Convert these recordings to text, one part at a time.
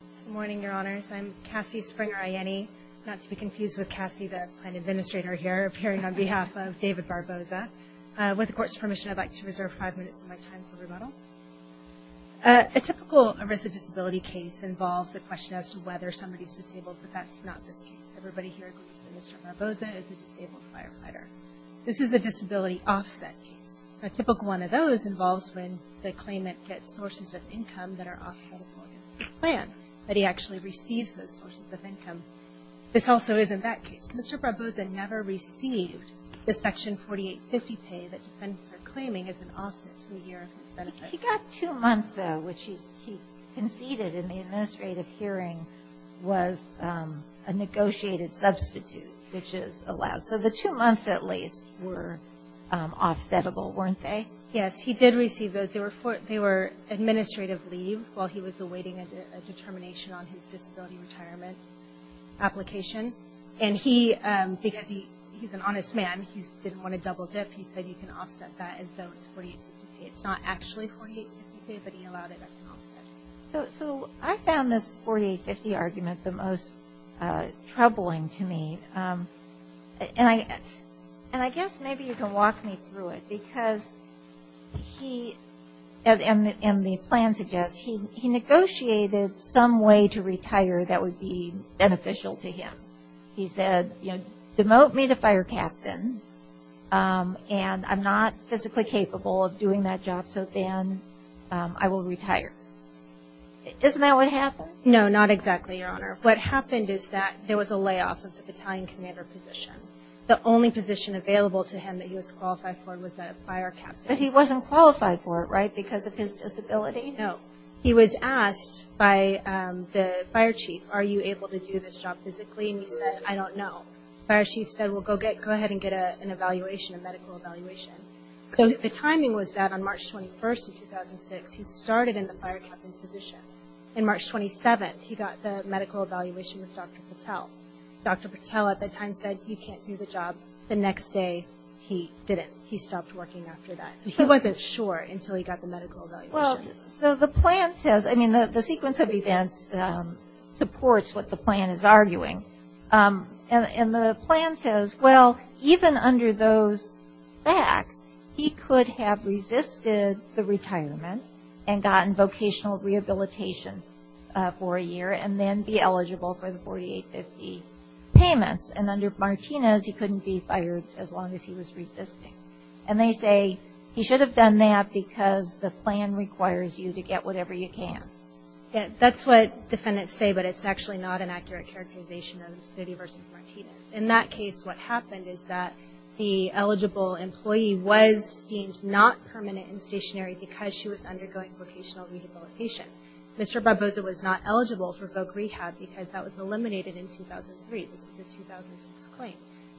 Good morning, your honors. I'm Cassie Springer-Aiene, not to be confused with Cassie, the plan administrator here, appearing on behalf of David Barboza. With the court's permission, I'd like to reserve five minutes of my time for rebuttal. A typical arrest of disability case involves a question as to whether somebody's disabled, but that's not this case. Everybody here agrees that Mr. Barboza is a disabled firefighter. This is a disability offset case. A typical one of those involves when the claimant gets sources of income that are offset for his plan, but he actually receives those sources of income. This also isn't that case. Mr. Barboza never received the Section 4850 pay that defendants are claiming as an offset to a year of his benefits. He got two months, though, which he conceded in the administrative hearing was a negotiated substitute, which is allowed. So the two months, at least, were offsettable, weren't they? Yes, he did receive those. They were administrative leave while he was awaiting a determination on his disability retirement application. And he, because he's an honest man, he didn't want to double dip. He said you can offset that as though it's 4850. It's not actually 4850, but he allowed it as an offset. So I found this 4850 argument the most troubling to me, and I guess maybe you can walk me through it, because he, and the plan suggests, he negotiated some way to retire that would be beneficial to him. He said, you know, demote me to fire captain, and I'm not physically capable of doing that job, so then I will retire. Isn't that what happened? No, not exactly, Your Honor. What happened is that there was a layoff of the battalion commander position. The only position available to him that he was qualified for was the fire captain. But he wasn't qualified for it, right, because of his disability? No. He was asked by the fire chief, are you able to do this job physically, and he said, I don't know. The fire chief said, well, go ahead and get an evaluation, a medical evaluation. So the timing was that on March 21st of 2006, he started in the fire captain position. On March 27th, he got the medical evaluation with Dr. Patel. Dr. Patel at that time said, you can't do the job. The next day, he didn't. He stopped working after that. So he wasn't sure until he got the medical evaluation. Well, so the plan says, I mean, the sequence of events supports what the plan is arguing. And the plan says, well, even under those facts, he could have resisted the retirement and gotten vocational rehabilitation for a year and then be eligible for the 4850 payments. And under Martinez, he couldn't be fired as long as he was resisting. And they say he should have done that because the plan requires you to get whatever you can. That's what defendants say, but it's actually not an accurate characterization of City v. Martinez. In that case, what happened is that the eligible employee was deemed not permanent and stationary because she was undergoing vocational rehabilitation. Mr. Barbosa was not eligible for voc rehab because that was eliminated in 2003. This is a 2006 claim.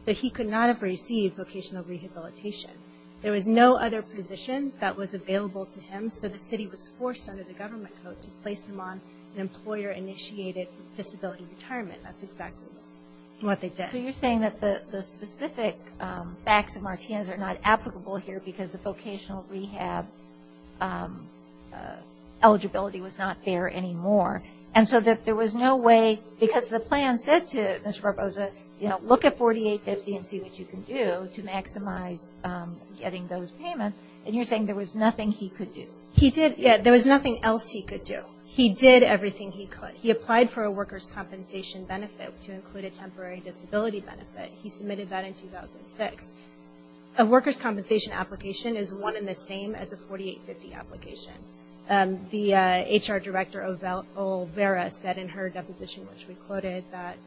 But he could not have received vocational rehabilitation. There was no other position that was available to him, so the city was forced under the government code to place him on an employer-initiated disability retirement. That's exactly what they did. So you're saying that the specific facts of Martinez are not applicable here because the vocational rehab eligibility was not there anymore. And so that there was no way, because the plan said to Mr. Barbosa, you know, look at 4850 and see what you can do to maximize getting those payments, and you're saying there was nothing he could do. He did, yeah, there was nothing else he could do. He did everything he could. He applied for a worker's compensation benefit to include a temporary disability benefit. He submitted that in 2006. A worker's compensation application is one in the same as a 4850 application. The HR director, Olvera, said in her deposition, which we quoted, that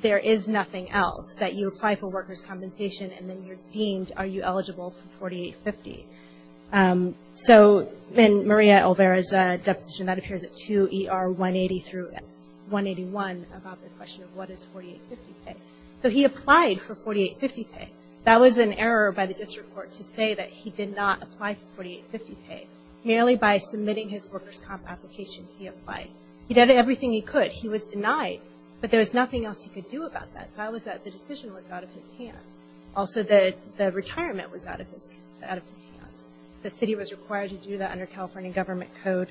there is nothing else, that you apply for worker's compensation and then you're deemed are you eligible for 4850. So in Maria Olvera's deposition, that appears at 2 ER 180 through 181, about the question of what is 4850 pay. So he applied for 4850 pay. That was an error by the district court to say that he did not apply for 4850 pay. Merely by submitting his worker's comp application, he applied. He did everything he could. He was denied. But there was nothing else he could do about that. The problem was that the decision was out of his hands. Also, the retirement was out of his hands. The city was required to do that under California Government Code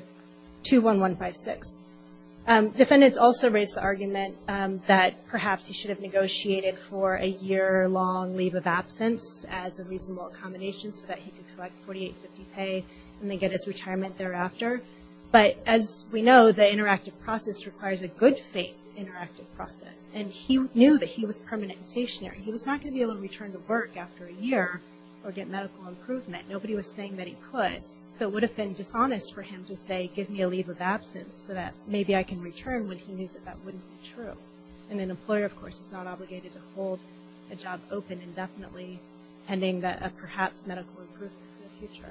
21156. Defendants also raised the argument that perhaps he should have negotiated for a year-long leave of absence as a reasonable accommodation so that he could collect 4850 pay and then get his retirement thereafter. But as we know, the interactive process requires a good faith interactive process. And he knew that he was permanent and stationary. He was not going to be able to return to work after a year or get medical improvement. Nobody was saying that he could. So it would have been dishonest for him to say, give me a leave of absence so that maybe I can return when he knew that that wouldn't be true. And an employer, of course, is not obligated to hold a job open indefinitely, pending a perhaps medical improvement in the future.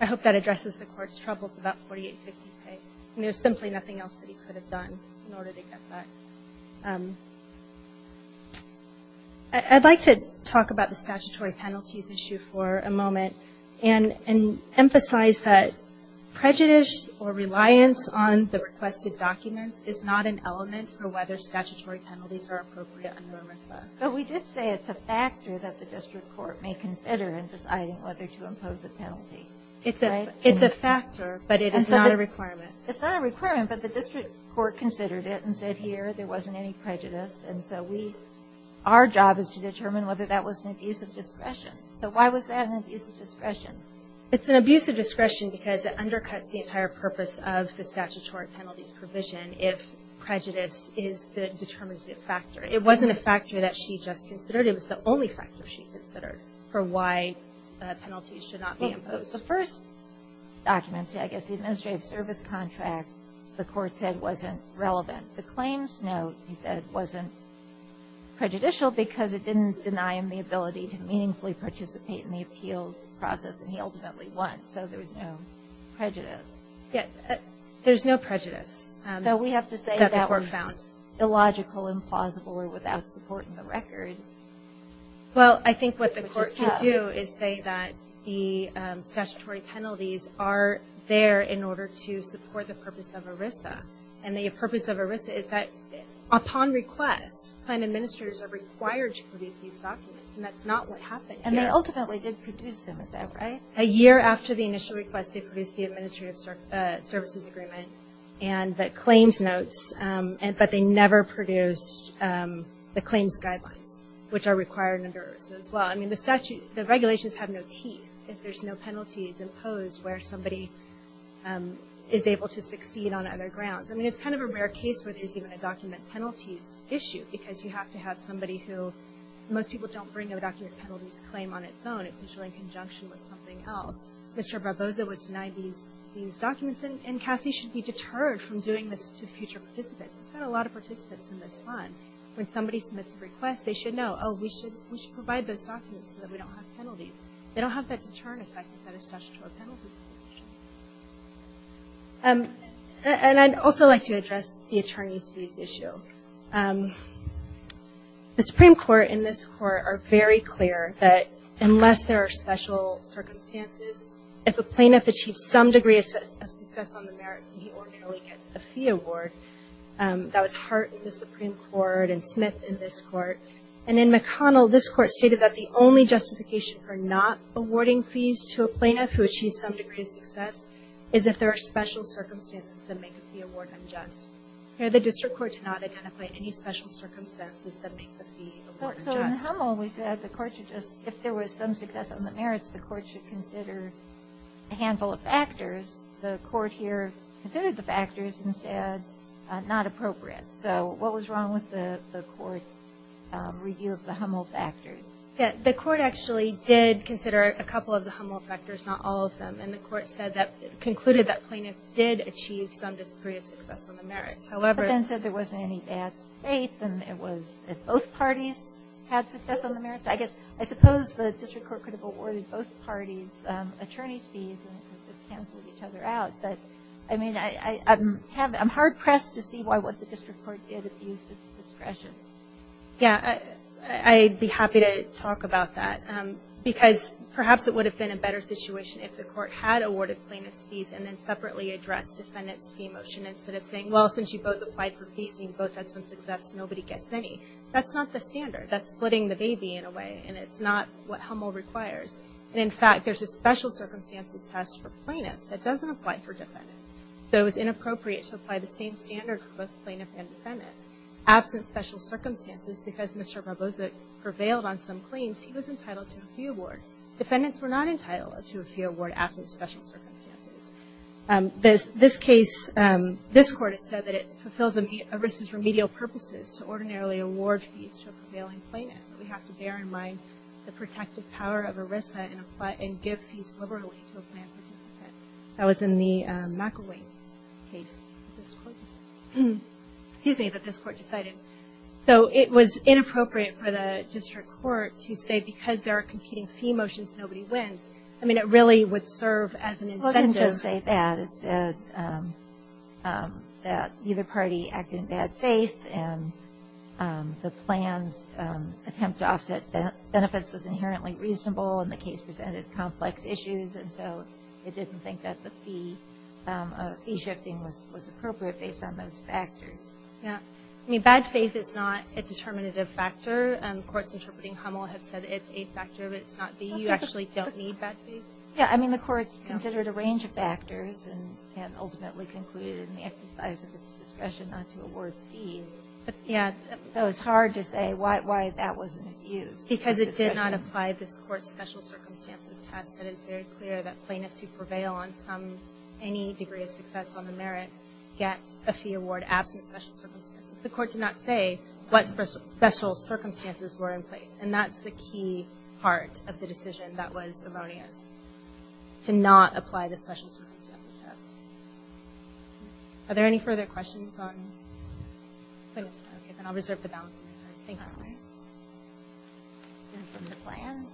I hope that addresses the court's troubles about 4850 pay. There's simply nothing else that he could have done in order to get that. I'd like to talk about the statutory penalties issue for a moment and emphasize that prejudice or reliance on the requested documents is not an element for whether statutory penalties are appropriate under MRSA. But we did say it's a factor that the district court may consider in deciding whether to impose a penalty. It's a factor, but it is not a requirement. It's not a requirement, but the district court considered it and said, here, there wasn't any prejudice. And so our job is to determine whether that was an abuse of discretion. So why was that an abuse of discretion? It's an abuse of discretion because it undercuts the entire purpose of the statutory penalties provision if prejudice is the determinative factor. It wasn't a factor that she just considered. It was the only factor she considered for why penalties should not be imposed. The first document, I guess, the administrative service contract, the court said wasn't relevant. The claims note, he said, wasn't prejudicial because it didn't deny him the ability to meaningfully participate in the appeals process, and he ultimately won. So there was no prejudice. There's no prejudice. Though we have to say that was illogical, implausible, or without support in the record. Well, I think what the court can do is say that the statutory penalties are there in order to support the purpose of ERISA. And the purpose of ERISA is that upon request, plan administrators are required to produce these documents, and that's not what happened here. And they ultimately did produce them, is that right? A year after the initial request, they produced the administrative services agreement and the claims notes, but they never produced the claims guidelines, which are required under ERISA as well. I mean, the regulations have no teeth if there's no penalties imposed where somebody is able to succeed on other grounds. I mean, it's kind of a rare case where there's even a document penalties issue because you have to have somebody who – most people don't bring a document penalties claim on its own. It's usually in conjunction with something else. Mr. Barbosa was denied these documents, and Cassie should be deterred from doing this to future participants. It's got a lot of participants in this fund. When somebody submits a request, they should know, oh, we should provide those documents so that we don't have penalties. They don't have that deterrent effect that a statutory penalty situation. And I'd also like to address the attorney's fees issue. The Supreme Court and this court are very clear that unless there are special circumstances, if a plaintiff achieves some degree of success on the merits, he ordinarily gets a fee award. That was Hart in the Supreme Court and Smith in this court. And in McConnell, this court stated that the only justification for not awarding fees to a plaintiff who achieves some degree of success is if there are special circumstances that make a fee award unjust. Here, the district court did not identify any special circumstances that make the fee award unjust. So in Hummel, we said the court should just – if there was some success on the merits, the court should consider a handful of factors. The court here considered the factors and said not appropriate. So what was wrong with the court's review of the Hummel factors? Yeah, the court actually did consider a couple of the Hummel factors, not all of them. And the court said that – concluded that plaintiff did achieve some degree of success on the merits. However – But then said there wasn't any bad faith and it was if both parties had success on the merits. I guess – I suppose the district court could have awarded both parties attorney's fees and just canceled each other out. But, I mean, I'm hard-pressed to see why what the district court did abused its discretion. Yeah, I'd be happy to talk about that. Because perhaps it would have been a better situation if the court had awarded plaintiff's fees and then separately addressed defendant's fee motion instead of saying, well, since you both applied for fees and you both had some success, nobody gets any. That's not the standard. That's splitting the baby, in a way. And it's not what Hummel requires. And, in fact, there's a special circumstances test for plaintiffs that doesn't apply for defendants. So it was inappropriate to apply the same standard for both plaintiff and defendants. Absent special circumstances, because Mr. Barbosa prevailed on some claims, he was entitled to a fee award. Defendants were not entitled to a fee award absent special circumstances. This case, this Court has said that it fulfills ERISA's remedial purposes to ordinarily award fees to a prevailing plaintiff. We have to bear in mind the protective power of ERISA and give fees liberally to a planned participant. That was in the McElwain case that this Court decided. Excuse me, that this Court decided. So it was inappropriate for the district court to say, because there are competing fee motions, nobody wins. I mean, it really would serve as an incentive. Well, it didn't just say that. It said that either party acted in bad faith, and the plan's attempt to offset benefits was inherently reasonable, and the case presented complex issues. And so it didn't think that the fee shifting was appropriate based on those factors. Yeah. I mean, bad faith is not a determinative factor. Courts interpreting Hummel have said it's a factor, but it's not. You actually don't need bad faith. Yeah, I mean, the Court considered a range of factors and ultimately concluded in the exercise of its discretion not to award fees. Yeah. So it's hard to say why that wasn't used. Because it did not apply this Court's special circumstances test. It is very clear that plaintiffs who prevail on any degree of success on the merits get a fee award absent special circumstances. The Court did not say what special circumstances were in place, and that's the key part of the decision that was erroneous, to not apply the special circumstances test. Are there any further questions on plaintiffs? Okay, then I'll reserve the balance of my time. Thank you. All right. And from the plan.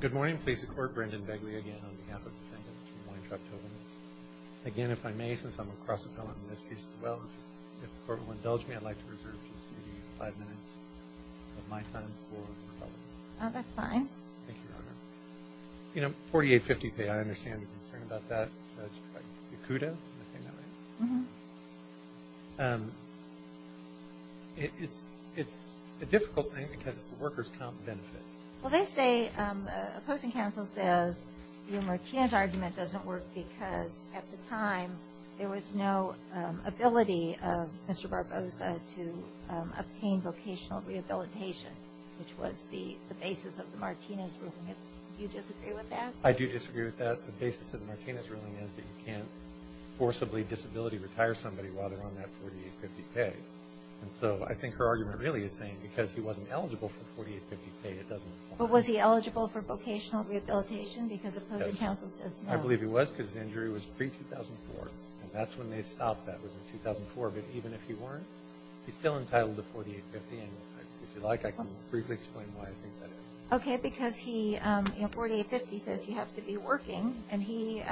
Good morning. Please support Brendan Begley again on behalf of defendants from Weintraub-Tobin. Again, if I may, since I'm a cross-appellant in this case as well, if the Court will indulge me, I'd like to reserve just maybe five minutes of my time for rebuttal. That's fine. Thank you, Your Honor. You know, 4850 pay, I understand the concern about that. Yakuta, did I say that right? Mm-hmm. It's a difficult thing because it's a workers' comp benefit. Well, they say, opposing counsel says, your Martinez argument doesn't work because at the time there was no ability of Mr. Barbosa to obtain vocational rehabilitation, which was the basis of the Martinez ruling. Do you disagree with that? I do disagree with that. The basis of the Martinez ruling is that you can't forcibly disability-retire somebody while they're on that 4850 pay. And so I think her argument really is saying because he wasn't eligible for 4850 pay, it doesn't apply. But was he eligible for vocational rehabilitation because opposing counsel says no? I believe he was because his injury was pre-2004. And that's when they stopped that, was in 2004. But even if he weren't, he's still entitled to 4850. And if you like, I can briefly explain why I think that is. Okay, because he, you know, 4850 says you have to be working, and he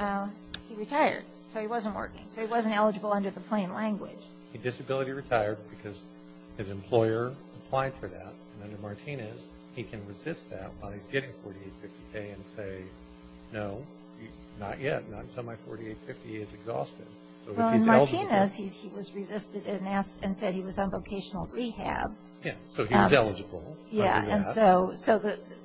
retired. So he wasn't working. So he wasn't eligible under the plain language. He disability-retired because his employer applied for that. And under Martinez, he can resist that while he's getting 4850 pay and say, no, not yet. Not until my 4850 is exhausted. Well, in Martinez, he was resisted and said he was on vocational rehab. Yeah, so he was eligible. Yeah, and so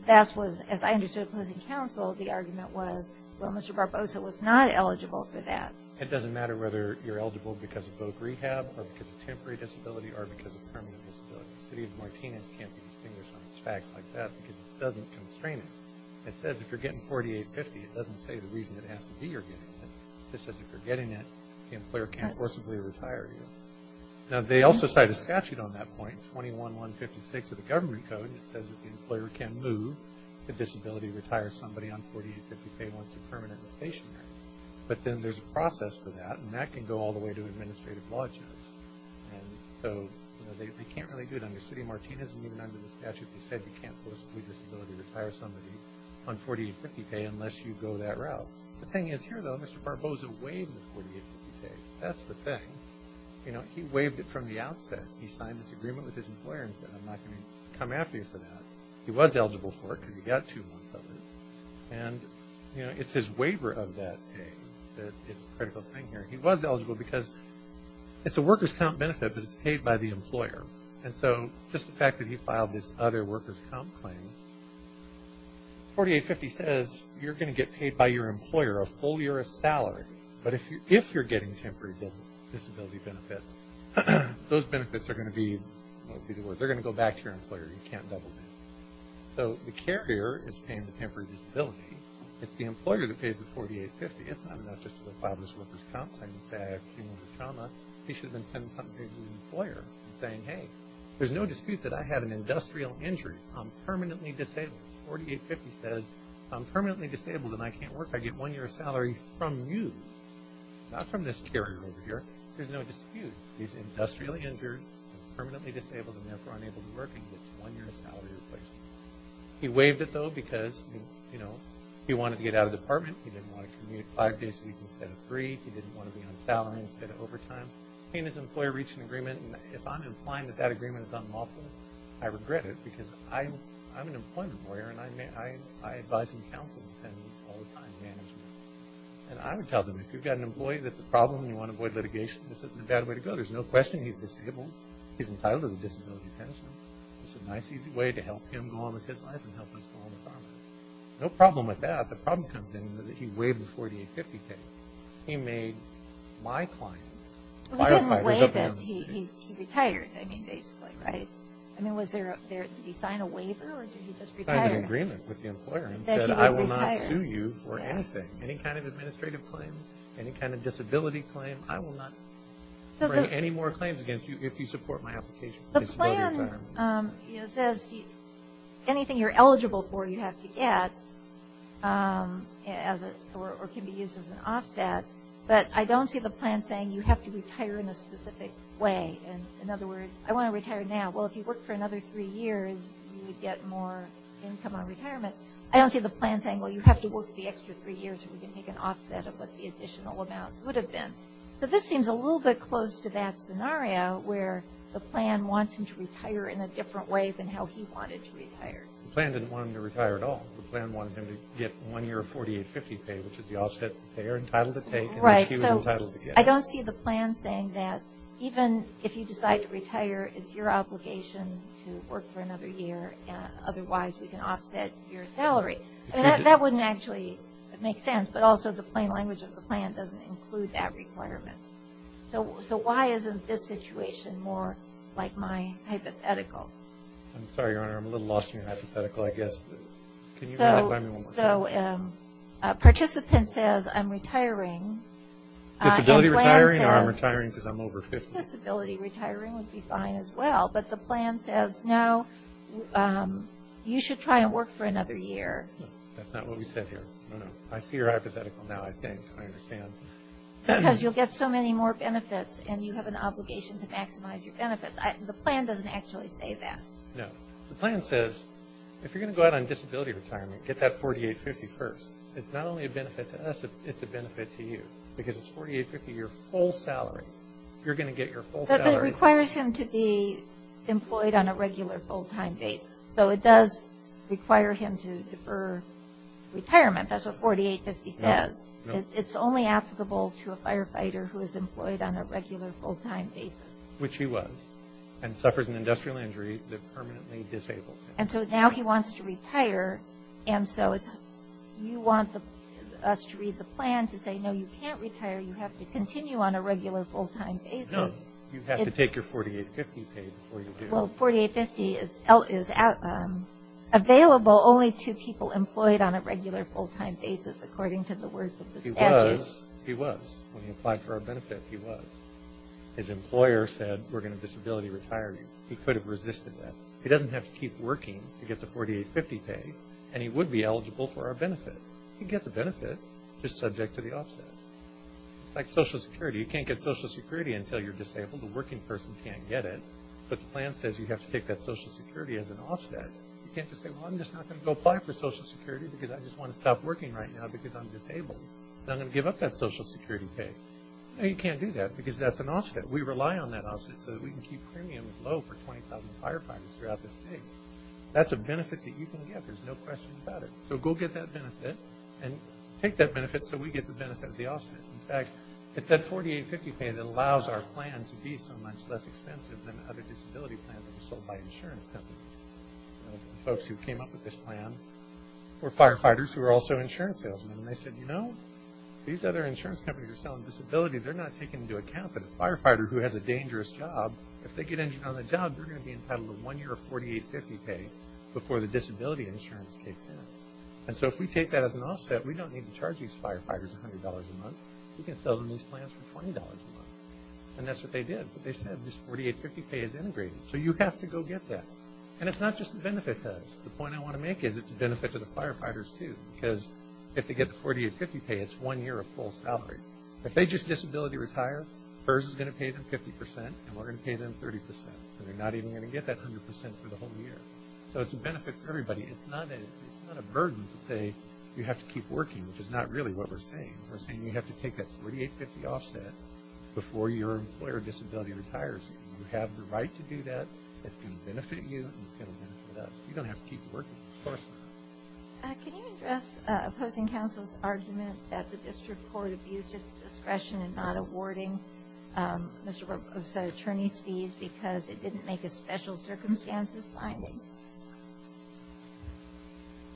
that was, as I understood opposing counsel, the argument was, well, Mr. Barbosa was not eligible for that. It doesn't matter whether you're eligible because of both rehab or because of temporary disability or because of permanent disability. The city of Martinez can't be distinguished on facts like that because it doesn't constrain it. It says if you're getting 4850, it doesn't say the reason it has to be you're getting it. It says if you're getting it, the employer can't forcibly retire you. Now, they also cite a statute on that point, 21-156 of the government code, and it says that the employer can move the disability to retire somebody on 4850 pay once they're permanent and stationary. But then there's a process for that, and that can go all the way to administrative law judge. And so they can't really do it under city of Martinez, and even under the statute they said you can't forcibly disability to retire somebody on 4850 pay unless you go that route. The thing is here, though, Mr. Barbosa waived the 4850 pay. That's the thing. You know, he waived it from the outset. He signed this agreement with his employer and said I'm not going to come after you for that. He was eligible for it because he got two months of it. And, you know, it's his waiver of that pay that is the critical thing here. He was eligible because it's a workers' comp benefit, but it's paid by the employer. And so just the fact that he filed this other workers' comp claim, 4850 says you're going to get paid by your employer a full year of salary. But if you're getting temporary disability benefits, those benefits are going to be, they're going to go back to your employer. You can't double that. So the carrier is paying the temporary disability. It's the employer that pays the 4850. It's not enough just to file this workers' comp claim and say I have cumulative trauma. He should have been sending something to his employer and saying, hey, there's no dispute that I had an industrial injury. I'm permanently disabled. 4850 says I'm permanently disabled and I can't work. I get one year of salary from you, not from this carrier over here. There's no dispute. He's industrially injured and permanently disabled and therefore unable to work and gets one year of salary replacement. He waived it, though, because, you know, he wanted to get out of the department. He didn't want to commute five days a week instead of three. He didn't want to be on salary instead of overtime. He and his employer reach an agreement, and if I'm implying that that agreement is unlawful, I regret it because I'm an employment lawyer and I advise and counsel dependents all the time in management. And I would tell them if you've got an employee that's a problem and you want to avoid litigation, this isn't a bad way to go. There's no question he's disabled. He's entitled to the disability pension. It's a nice, easy way to help him go on with his life and help us go on with ours. No problem with that. The problem comes in that he waived the 4850 claim. He made my clients, firefighters up in the city. He didn't waive it. He retired, I mean, basically, right? I mean, did he sign a waiver or did he just retire? He signed an agreement with the employer and said, I will not sue you for anything, any kind of administrative claim, any kind of disability claim. I will not bring any more claims against you if you support my application. The plan says anything you're eligible for you have to get or can be used as an offset. But I don't see the plan saying you have to retire in a specific way. In other words, I want to retire now. Well, if you work for another three years, you would get more income on retirement. I don't see the plan saying, well, you have to work the extra three years or you can take an offset of what the additional amount would have been. So this seems a little bit close to that scenario where the plan wants him to retire in a different way than how he wanted to retire. The plan didn't want him to retire at all. The plan wanted him to get one year of 4850 pay, which is the offset the payer entitled to take and she was entitled to get. I don't see the plan saying that even if you decide to retire, it's your obligation to work for another year. Otherwise, we can offset your salary. That wouldn't actually make sense, but also the plain language of the plan doesn't include that requirement. So why isn't this situation more like my hypothetical? I'm sorry, Your Honor. I'm a little lost in your hypothetical, I guess. So participant says, I'm retiring. Disability retiring or I'm retiring because I'm over 50. Disability retiring would be fine as well, but the plan says, no, you should try and work for another year. That's not what we said here. I see your hypothetical now, I think. I understand. Because you'll get so many more benefits and you have an obligation to maximize your benefits. The plan doesn't actually say that. No. The plan says if you're going to go out on disability retirement, get that 4850 first. It's not only a benefit to us, it's a benefit to you. Because it's 4850, your full salary. You're going to get your full salary. But that requires him to be employed on a regular, full-time basis. So it does require him to defer retirement. That's what 4850 says. It's only applicable to a firefighter who is employed on a regular, full-time basis. Which he was. And suffers an industrial injury that permanently disables him. And so now he wants to retire, and so you want us to read the plan to say, no, you can't retire, you have to continue on a regular, full-time basis. No, you have to take your 4850 pay before you do. Well, 4850 is available only to people employed on a regular, full-time basis, according to the words of the statute. He was. He was. When he applied for our benefit, he was. His employer said, we're going to disability retire you. He could have resisted that. He doesn't have to keep working to get the 4850 pay, and he would be eligible for our benefit. He'd get the benefit, just subject to the offset. It's like Social Security. You can't get Social Security until you're disabled. The working person can't get it. But the plan says you have to take that Social Security as an offset. You can't just say, well, I'm just not going to go apply for Social Security because I just want to stop working right now because I'm disabled. And I'm going to give up that Social Security pay. No, you can't do that because that's an offset. We rely on that offset so that we can keep premiums low for 20,000 firefighters throughout the state. That's a benefit that you can get. There's no question about it. So go get that benefit and take that benefit so we get the benefit of the offset. In fact, it's that 4850 pay that allows our plan to be so much less expensive than other disability plans that were sold by insurance companies. The folks who came up with this plan were firefighters who were also insurance salesmen, and they said, you know, these other insurance companies are selling disability. They're not taking into account that a firefighter who has a dangerous job, if they get injured on the job, they're going to be entitled to one year of 4850 pay before the disability insurance kicks in. And so if we take that as an offset, we don't need to charge these firefighters $100 a month. We can sell them these plans for $20 a month. And that's what they did. But they said this 4850 pay is integrated. So you have to go get that. And it's not just the benefit to us. The point I want to make is it's a benefit to the firefighters, too. Because if they get the 4850 pay, it's one year of full salary. If they just disability retire, HRSA is going to pay them 50%, and we're going to pay them 30%. They're not even going to get that 100% for the whole year. So it's a benefit for everybody. It's not a burden to say you have to keep working, which is not really what we're saying. We're saying you have to take that 4850 offset before your employer disability retires you. You have the right to do that. It's going to benefit you, and it's going to benefit us. You don't have to keep working, of course not. Can you address opposing counsel's argument that the district court abused its discretion in not awarding Mr. Roposa's attorney's fees because it didn't make a special circumstances finding?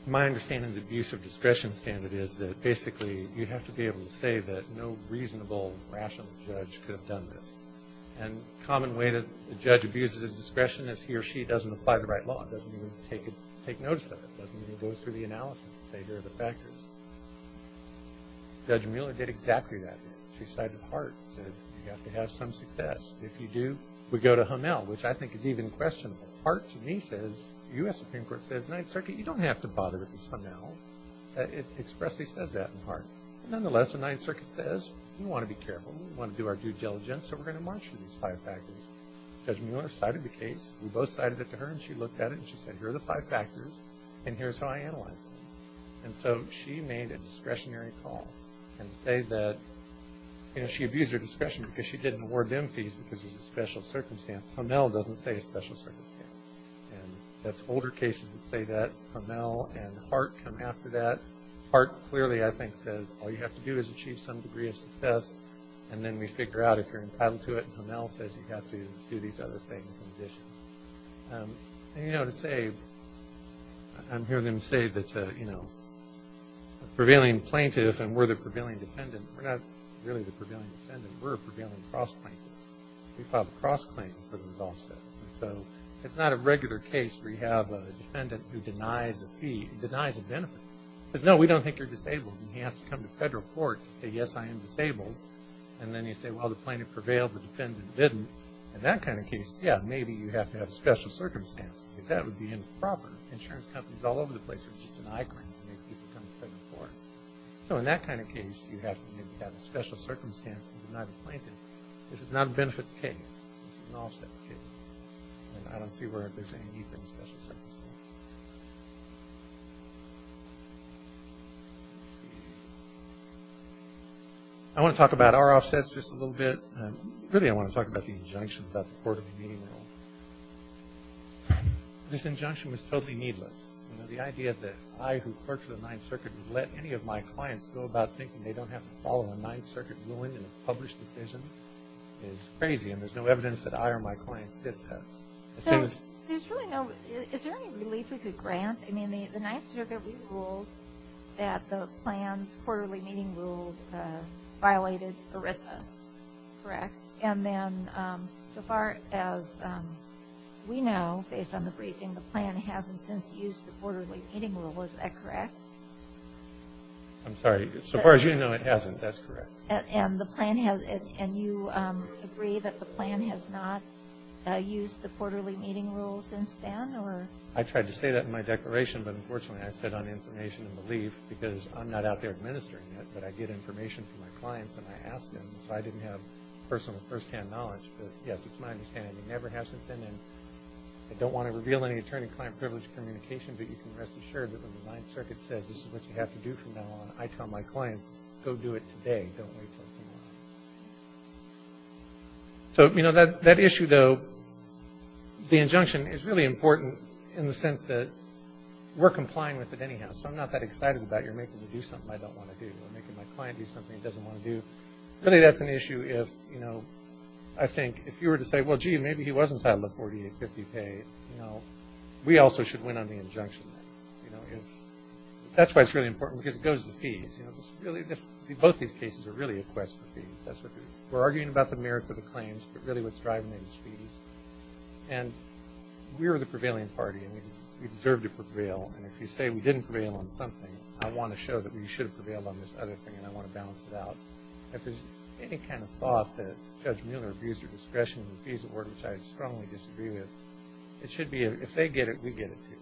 My understanding of the abuse of discretion standard is that, basically, you have to be able to say that no reasonable, rational judge could have done this. And a common way that a judge abuses his discretion is he or she doesn't apply the right law. It doesn't mean we take notice of it. It doesn't mean we go through the analysis and say here are the factors. Judge Mueller did exactly that. She cited Hart and said you have to have some success. If you do, we go to Hamel, which I think is even questionable. Hart, to me, says the U.S. Supreme Court says Ninth Circuit, you don't have to bother with this Hamel. It expressly says that in Hart. Nonetheless, the Ninth Circuit says we want to be careful. We want to do our due diligence, so we're going to march through these five factors. Judge Mueller cited the case. We both cited it to her, and she looked at it, and she said, here are the five factors, and here's how I analyze them. And so she made a discretionary call and say that, you know, she abused her discretion because she didn't award them fees because it was a special circumstance. Hamel doesn't say a special circumstance. And that's older cases that say that. Hamel and Hart come after that. Hart clearly, I think, says all you have to do is achieve some degree of success, and then we figure out if you're entitled to it. And, you know, to say I'm hearing them say that, you know, a prevailing plaintiff and we're the prevailing defendant, we're not really the prevailing defendant. We're a prevailing cross-plaintiff. We filed a cross-claim for those offsets. And so it's not a regular case where you have a defendant who denies a fee, denies a benefit, says, no, we don't think you're disabled, and he has to come to federal court to say, yes, I am disabled. And then you say, well, the plaintiff prevailed, the defendant didn't. In that kind of case, yeah, maybe you have to have a special circumstance because that would be improper. Insurance companies all over the place are just an eyegrain to make people come to federal court. So in that kind of case, you have to have a special circumstance to deny the plaintiff. This is not a benefits case. This is an offsets case. And I don't see where there's any need for a special circumstance. I want to talk about our offsets just a little bit. Really, I want to talk about the injunction about the quarterly meeting rule. This injunction was totally needless. You know, the idea that I, who clerked for the Ninth Circuit, would let any of my clients go about thinking they don't have to follow a Ninth Circuit ruling in a published decision is crazy, and there's no evidence that I or my clients did that. So there's really no – is there any relief we could grant? I mean, the Ninth Circuit ruled that the plan's quarterly meeting rule violated ERISA, correct? And then so far as we know, based on the briefing, the plan hasn't since used the quarterly meeting rule. Is that correct? I'm sorry. So far as you know, it hasn't. That's correct. And the plan has – and you agree that the plan has not used the quarterly meeting rule since then? I tried to say that in my declaration, but unfortunately I said on information and belief because I'm not out there administering it, but I get information from my clients and I ask them. So I didn't have personal first-hand knowledge, but yes, it's my understanding. It never has since then. And I don't want to reveal any attorney-client privilege communication, but you can rest assured that when the Ninth Circuit says this is what you have to do from now on, I tell my clients, go do it today. Don't wait until tomorrow. So, you know, that issue, though, the injunction is really important in the sense that we're complying with it anyhow, so I'm not that excited about you're making me do something I don't want to do or making my client do something he doesn't want to do. Really that's an issue if, you know, I think if you were to say, well, gee, maybe he wasn't entitled to 4850 pay, you know, we also should win on the injunction. You know, that's why it's really important because it goes to fees. You know, both these cases are really a quest for fees. We're arguing about the merits of the claims, but really what's driving it is fees. And we're the prevailing party, and we deserve to prevail. And if you say we didn't prevail on something, I want to show that we should have prevailed on this other thing, and I want to balance it out. If there's any kind of thought that Judge Mueller abused her discretion in the fees award, which I strongly disagree with, it should be if they get it, we get it, too.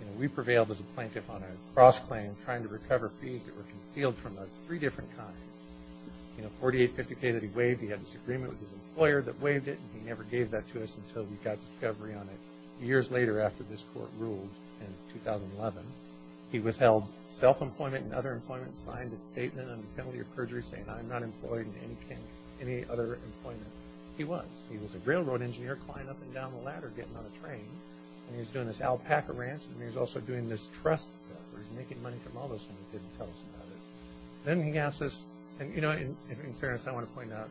You know, we prevailed as a plaintiff on a cross-claim trying to recover fees that were concealed from us, three different kinds. You know, 4850 pay that he waived, he had this agreement with his employer that waived it, and he never gave that to us until we got discovery on it years later after this court ruled in 2011. He withheld self-employment and other employment, signed a statement on the penalty of perjury saying I'm not employed in any other employment. He was. He was a railroad engineer climbing up and down the ladder getting on a train, and he was doing this alpaca ranch, and he was also doing this trust stuff where he was making money from all those things he didn't tell us about it. Then he asked us, and, you know, in fairness, I want to point out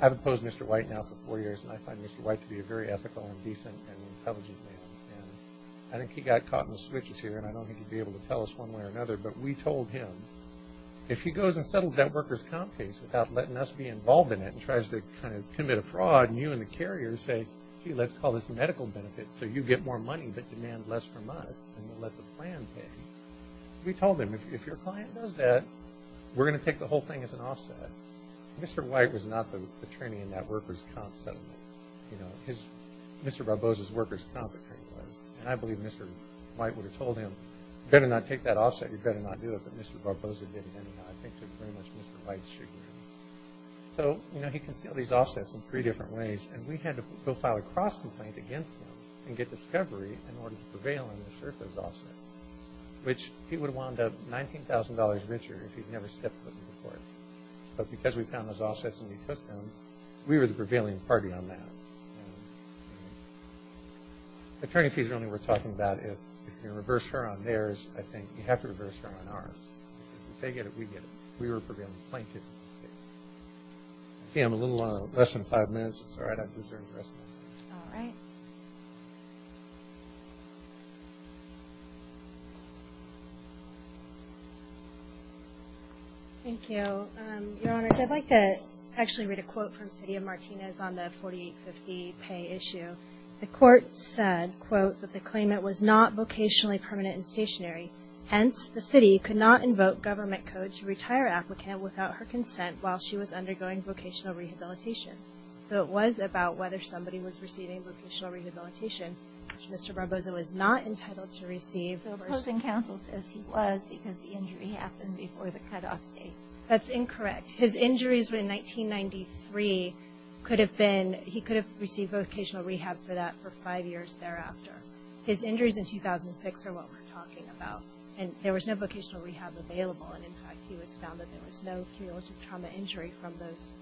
I've opposed Mr. White now for four years, and I find Mr. White to be a very ethical and decent and intelligent man, and I think he got caught in the switches here, and I don't think he'd be able to tell us one way or another, but we told him if he goes and settles that workers' comp case without letting us be involved in it and tries to kind of commit a fraud, and you and the carrier say, gee, let's call this medical benefit so you get more money but demand less from us and we'll let the plan pay, we told him if your client does that, we're going to take the whole thing as an offset. Mr. White was not the attorney in that workers' comp settlement. You know, his, Mr. Barbosa's workers' comp attorney was, and I believe Mr. White would have told him, you'd better not take that offset, you'd better not do it, but Mr. Barbosa didn't, and I think to very much Mr. White's chagrin. So, you know, he concealed these offsets in three different ways, and we had to go file a cross-complaint against him and get discovery in order to prevail and assert those offsets, which he would have wound up $19,000 richer if he'd never stepped foot in court. But because we found those offsets and he took them, we were the prevailing party on that. Attorney fees are only worth talking about if you reverse her on theirs, I think you have to reverse her on ours. Because if they get it, we get it. We were prevailing plaintiff in this case. I see I'm a little less than five minutes. It's all right, I'll reserve the rest of my time. All right. Thank you. Your Honors, I'd like to actually read a quote from City of Martinez on the 4850 pay issue. The court said, quote, that the claimant was not vocationally permanent and stationary, hence the city could not invoke government code to retire applicant without her consent while she was undergoing vocational rehabilitation. So it was about whether somebody was receiving vocational rehabilitation, which Mr. Barbosa was not entitled to receive. The opposing counsel says he was because the injury happened before the cutoff date. That's incorrect. His injuries were in 1993. He could have received vocational rehab for that for five years thereafter. His injuries in 2006 are what we're talking about. And there was no vocational rehab available. And, in fact, he was found that there was no cumulative trauma injury from those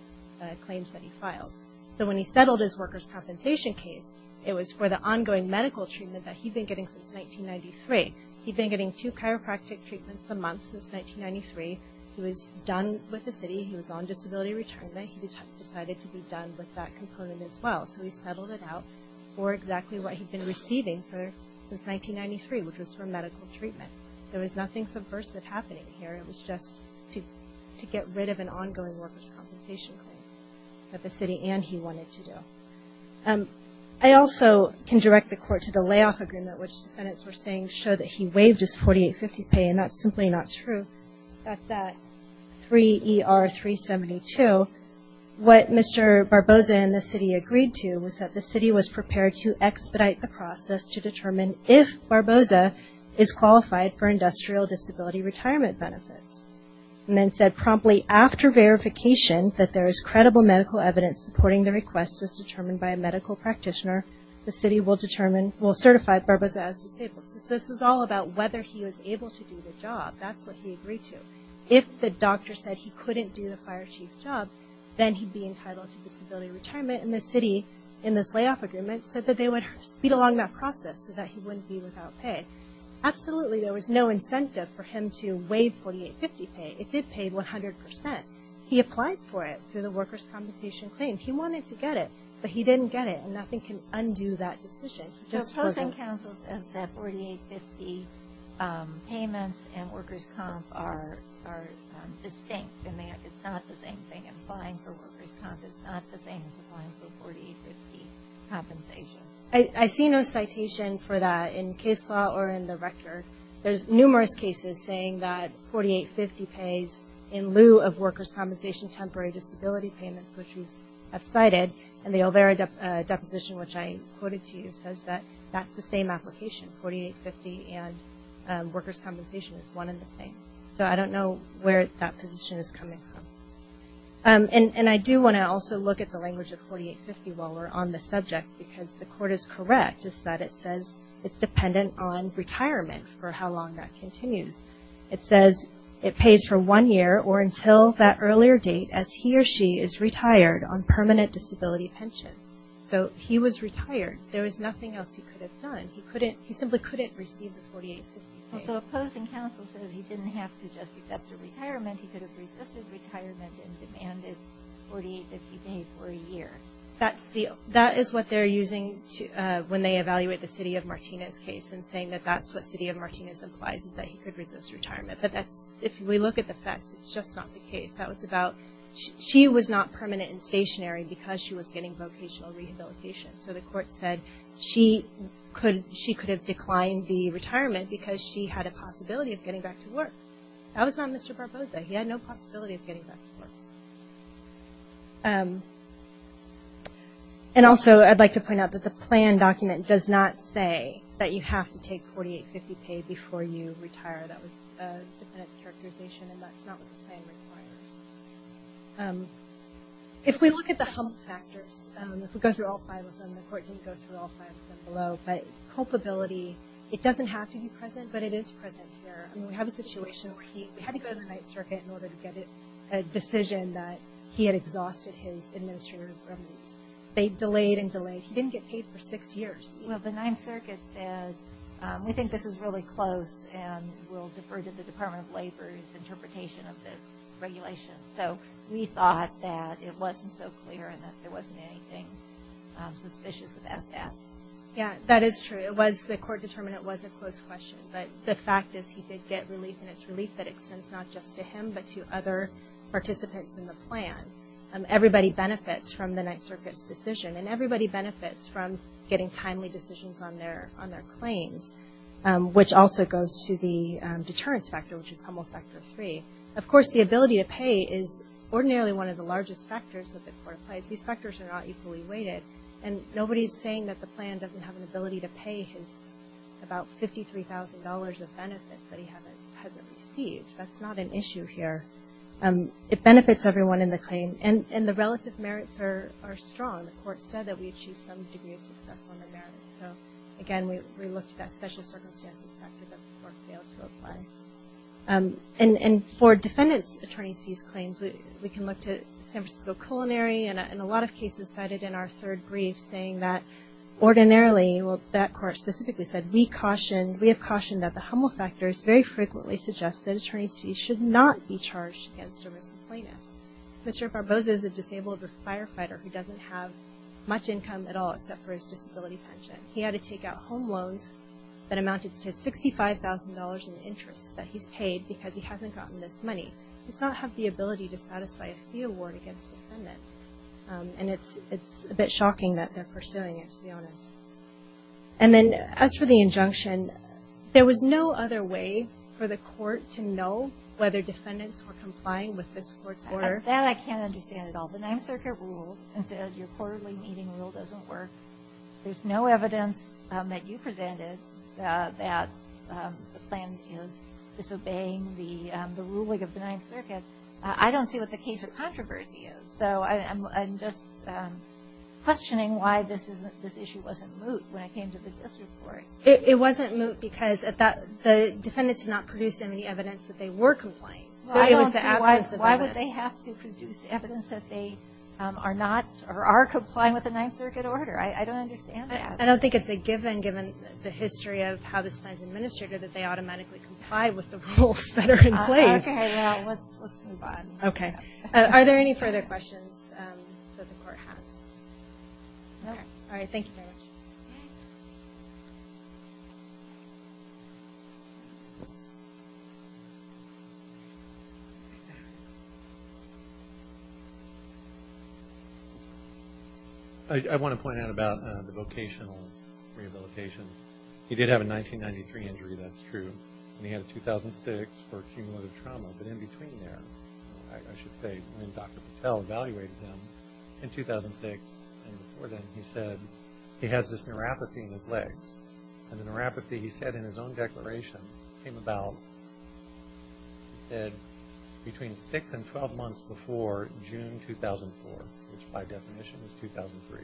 claims that he filed. So when he settled his workers' compensation case, it was for the ongoing medical treatment that he'd been getting since 1993. He'd been getting two chiropractic treatments a month since 1993. He was done with the city. He was on disability retirement. He decided to be done with that component as well. So he settled it out for exactly what he'd been receiving since 1993, which was for medical treatment. There was nothing subversive happening here. It was just to get rid of an ongoing workers' compensation claim that the city and he wanted to do. I also can direct the Court to the layoff agreement, which defendants were saying showed that he waived his 4850 pay, and that's simply not true. That's at 3ER372. So what Mr. Barbosa and the city agreed to was that the city was prepared to expedite the process to determine if Barbosa is qualified for industrial disability retirement benefits. And then said promptly, after verification that there is credible medical evidence supporting the request as determined by a medical practitioner, the city will certify Barbosa as disabled. So this was all about whether he was able to do the job. That's what he agreed to. If the doctor said he couldn't do the fire chief job, then he'd be entitled to disability retirement. And the city, in this layoff agreement, said that they would speed along that process so that he wouldn't be without pay. Absolutely there was no incentive for him to waive 4850 pay. It did pay 100%. He applied for it through the workers' compensation claim. He wanted to get it, but he didn't get it, and nothing can undo that decision. So opposing counsel says that 4850 payments and workers' comp are distinct, and it's not the same thing applying for workers' comp. It's not the same as applying for 4850 compensation. I see no citation for that in case law or in the record. There's numerous cases saying that 4850 pays in lieu of workers' compensation temporary disability payments, which we have cited, and the Olvera deposition, which I quoted to you, says that that's the same application, 4850, and workers' compensation is one and the same. So I don't know where that position is coming from. And I do want to also look at the language of 4850 while we're on the subject, because the court is correct in that it says it's dependent on retirement for how long that continues. It says it pays for one year or until that earlier date as he or she is retired on permanent disability pension. So he was retired. There was nothing else he could have done. He simply couldn't receive the 4850 pay. So opposing counsel says he didn't have to just accept a retirement. He could have resisted retirement and demanded 4850 pay for a year. That is what they're using when they evaluate the city of Martinez case and saying that that's what city of Martinez implies is that he could resist retirement. But if we look at the facts, it's just not the case. She was not permanent and stationary because she was getting vocational rehabilitation. So the court said she could have declined the retirement because she had a possibility of getting back to work. That was not Mr. Barbosa. He had no possibility of getting back to work. And also I'd like to point out that the plan document does not say that you have to take 4850 pay before you retire. That was a dependence characterization, and that's not what the plan requires. If we look at the hump factors, if we go through all five of them, the court didn't go through all five of them below, but culpability, it doesn't have to be present, but it is present here. I mean, we have a situation where he had to go to the Ninth Circuit in order to get a decision that he had exhausted his administrative remittance. They delayed and delayed. He didn't get paid for six years. Well, the Ninth Circuit said, we think this is really close, and we'll defer to the Department of Labor's interpretation of this regulation. So we thought that it wasn't so clear and that there wasn't anything suspicious about that. Yeah, that is true. The court determined it was a close question, but the fact is he did get relief, and it's relief that extends not just to him but to other participants in the plan. Everybody benefits from the Ninth Circuit's decision, and everybody benefits from getting timely decisions on their claims, which also goes to the deterrence factor, which is Humboldt Factor III. Of course, the ability to pay is ordinarily one of the largest factors that the court applies. These factors are not equally weighted, and nobody is saying that the plan doesn't have an ability to pay his about $53,000 of benefits that he hasn't received. That's not an issue here. It benefits everyone in the claim, and the relative merits are strong. The court said that we achieved some degree of success on the merits. So, again, we looked at that special circumstances factor that the court failed to apply. And for defendants' attorneys' fees claims, we can look to San Francisco Culinary, and a lot of cases cited in our third brief saying that ordinarily, well, that court specifically said, we have cautioned that the Humboldt factors very frequently suggest that attorneys' fees should not be charged against a missing plaintiff. Mr. Barbosa is a disabled firefighter who doesn't have much income at all except for his disability pension. He had to take out home loans that amounted to $65,000 in interest that he's paid because he hasn't gotten this money. He does not have the ability to satisfy a fee award against defendants. And it's a bit shocking that they're pursuing it, to be honest. And then, as for the injunction, there was no other way for the court to know whether defendants were complying with this court's order. That I can't understand at all. The Ninth Circuit ruled and said your quarterly meeting rule doesn't work. There's no evidence that you presented that the plan is disobeying the ruling of the Ninth Circuit. I don't see what the case of controversy is. So I'm just questioning why this issue wasn't moot when it came to the district court. It wasn't moot because the defendants did not produce any evidence that they were complying. Why would they have to produce evidence that they are not or are complying with the Ninth Circuit order? I don't understand that. I don't think it's a given, given the history of how this plan is administrated, that they automatically comply with the rules that are in place. Let's move on. Okay. Are there any further questions that the court has? No. All right. Thank you very much. I want to point out about the vocational rehabilitation. He did have a 1993 injury, that's true. And he had a 2006 for cumulative trauma. But in between there, I should say, when Dr. Patel evaluated him in 2006 and before then, he said he has this neuropathy in his legs. And the neuropathy, he said in his own declaration, came about, he said, between six and 12 months before June 2004, which by definition is 2003.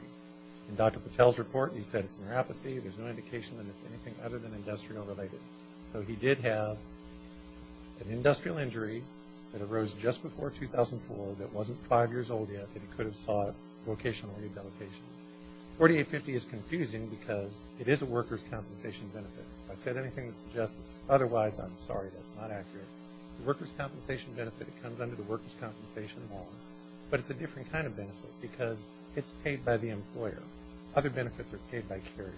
In Dr. Patel's report, he said it's neuropathy. There's no indication that it's anything other than industrial related. So he did have an industrial injury that arose just before 2004 that wasn't five years old yet that he could have sought vocational rehabilitation. 4850 is confusing because it is a workers' compensation benefit. If I've said anything that's injustice, otherwise I'm sorry. That's not accurate. The workers' compensation benefit, it comes under the workers' compensation laws. But it's a different kind of benefit because it's paid by the employer. Other benefits are paid by carriers.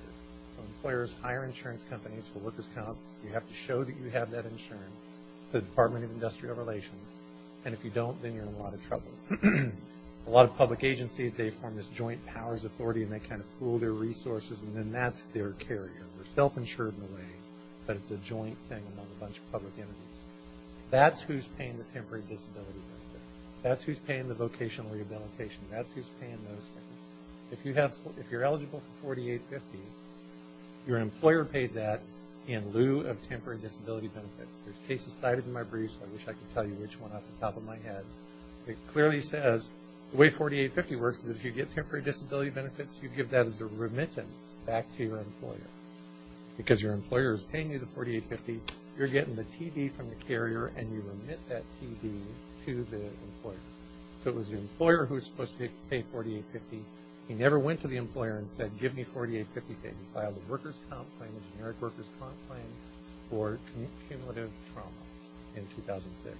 So employers hire insurance companies for workers' comp. You have to show that you have that insurance to the Department of Industrial Relations. And if you don't, then you're in a lot of trouble. A lot of public agencies, they form this joint powers authority, and they kind of pool their resources, and then that's their carrier. They're self-insured in a way, but it's a joint thing among a bunch of public entities. That's who's paying the temporary disability benefit. That's who's paying the vocational rehabilitation. That's who's paying those things. If you're eligible for 4850, your employer pays that in lieu of temporary disability benefits. There's cases cited in my brief, so I wish I could tell you which one off the top of my head. It clearly says the way 4850 works is if you get temporary disability benefits, you give that as a remittance back to your employer. Because your employer is paying you the 4850, you're getting the TD from the carrier, and you remit that TD to the employer. So it was the employer who was supposed to pay 4850. He never went to the employer and said, give me 4850. He filed a workers' comp claim, a generic workers' comp claim, for cumulative trauma in 2006.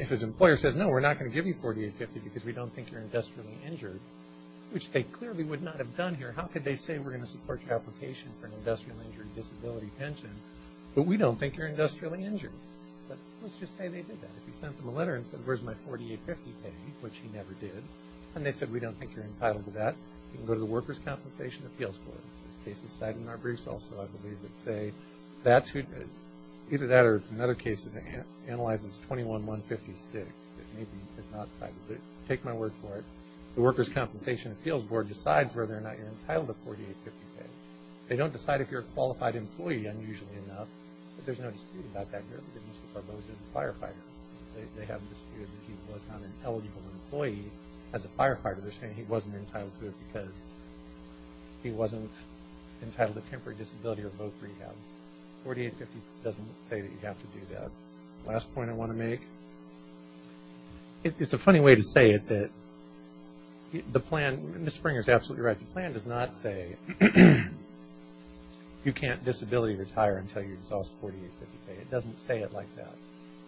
If his employer says, no, we're not going to give you 4850 because we don't think you're industrially injured, which they clearly would not have done here. How could they say we're going to support your application for an industrially injured disability pension, but we don't think you're industrially injured? But let's just say they did that. If he sent them a letter and said, where's my 4850 pay, which he never did, and they said, we don't think you're entitled to that, you can go to the Workers' Compensation Appeals Court. There's cases cited in our briefs also, I believe, that say that's who – either that or it's another case that analyzes 21-156 that maybe is not cited. But take my word for it. The Workers' Compensation Appeals Court decides whether or not you're entitled to 4850 pay. They don't decide if you're a qualified employee, unusually enough. But there's no dispute about that. You're eligible for both as a firefighter. They have a dispute that he was not an eligible employee as a firefighter. They're saying he wasn't entitled to it because he wasn't entitled to temporary disability or voc rehab. 4850 doesn't say that you have to do that. The last point I want to make, it's a funny way to say it, that the plan – Ms. Springer is absolutely right. The plan does not say you can't disability retire until you exhaust 4850 pay. It doesn't say it like that.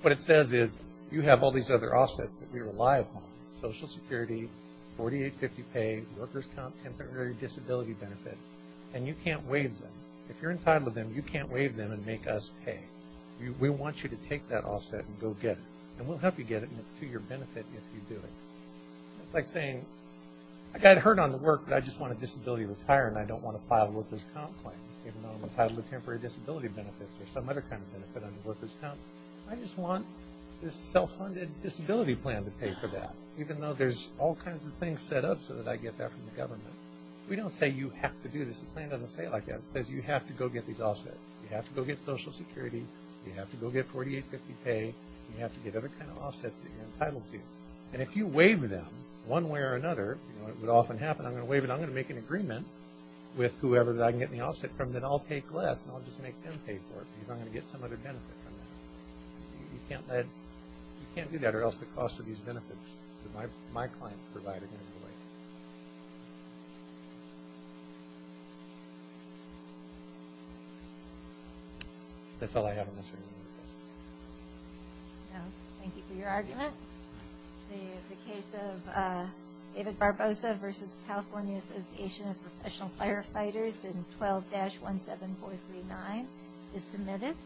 What it says is you have all these other offsets that we rely upon, Social Security, 4850 pay, Workers' Comp, temporary disability benefits, and you can't waive them. If you're entitled to them, you can't waive them and make us pay. We want you to take that offset and go get it. And we'll help you get it, and it's to your benefit if you do it. It's like saying, I got hurt on the work, but I just want a disability to retire, and I don't want to file a Workers' Comp plan, even though I'm entitled to temporary disability benefits or some other kind of benefit under Workers' Comp. I just want this self-funded disability plan to pay for that, even though there's all kinds of things set up so that I get that from the government. We don't say you have to do this. The plan doesn't say it like that. It says you have to go get these offsets. You have to go get Social Security. You have to go get 4850 pay. You have to get other kind of offsets that you're entitled to. And if you waive them one way or another, it would often happen, I'm going to waive it, I'm going to make an agreement with whoever that I can get the offset from, then I'll take less, and I'll just make them pay for it because I'm going to get some other benefit from that. You can't do that or else the cost of these benefits that my clients provide are going to go away. That's all I have on this. Thank you for your argument. The case of David Barbosa versus California Association of Professional Firefighters in 12-17439 is submitted.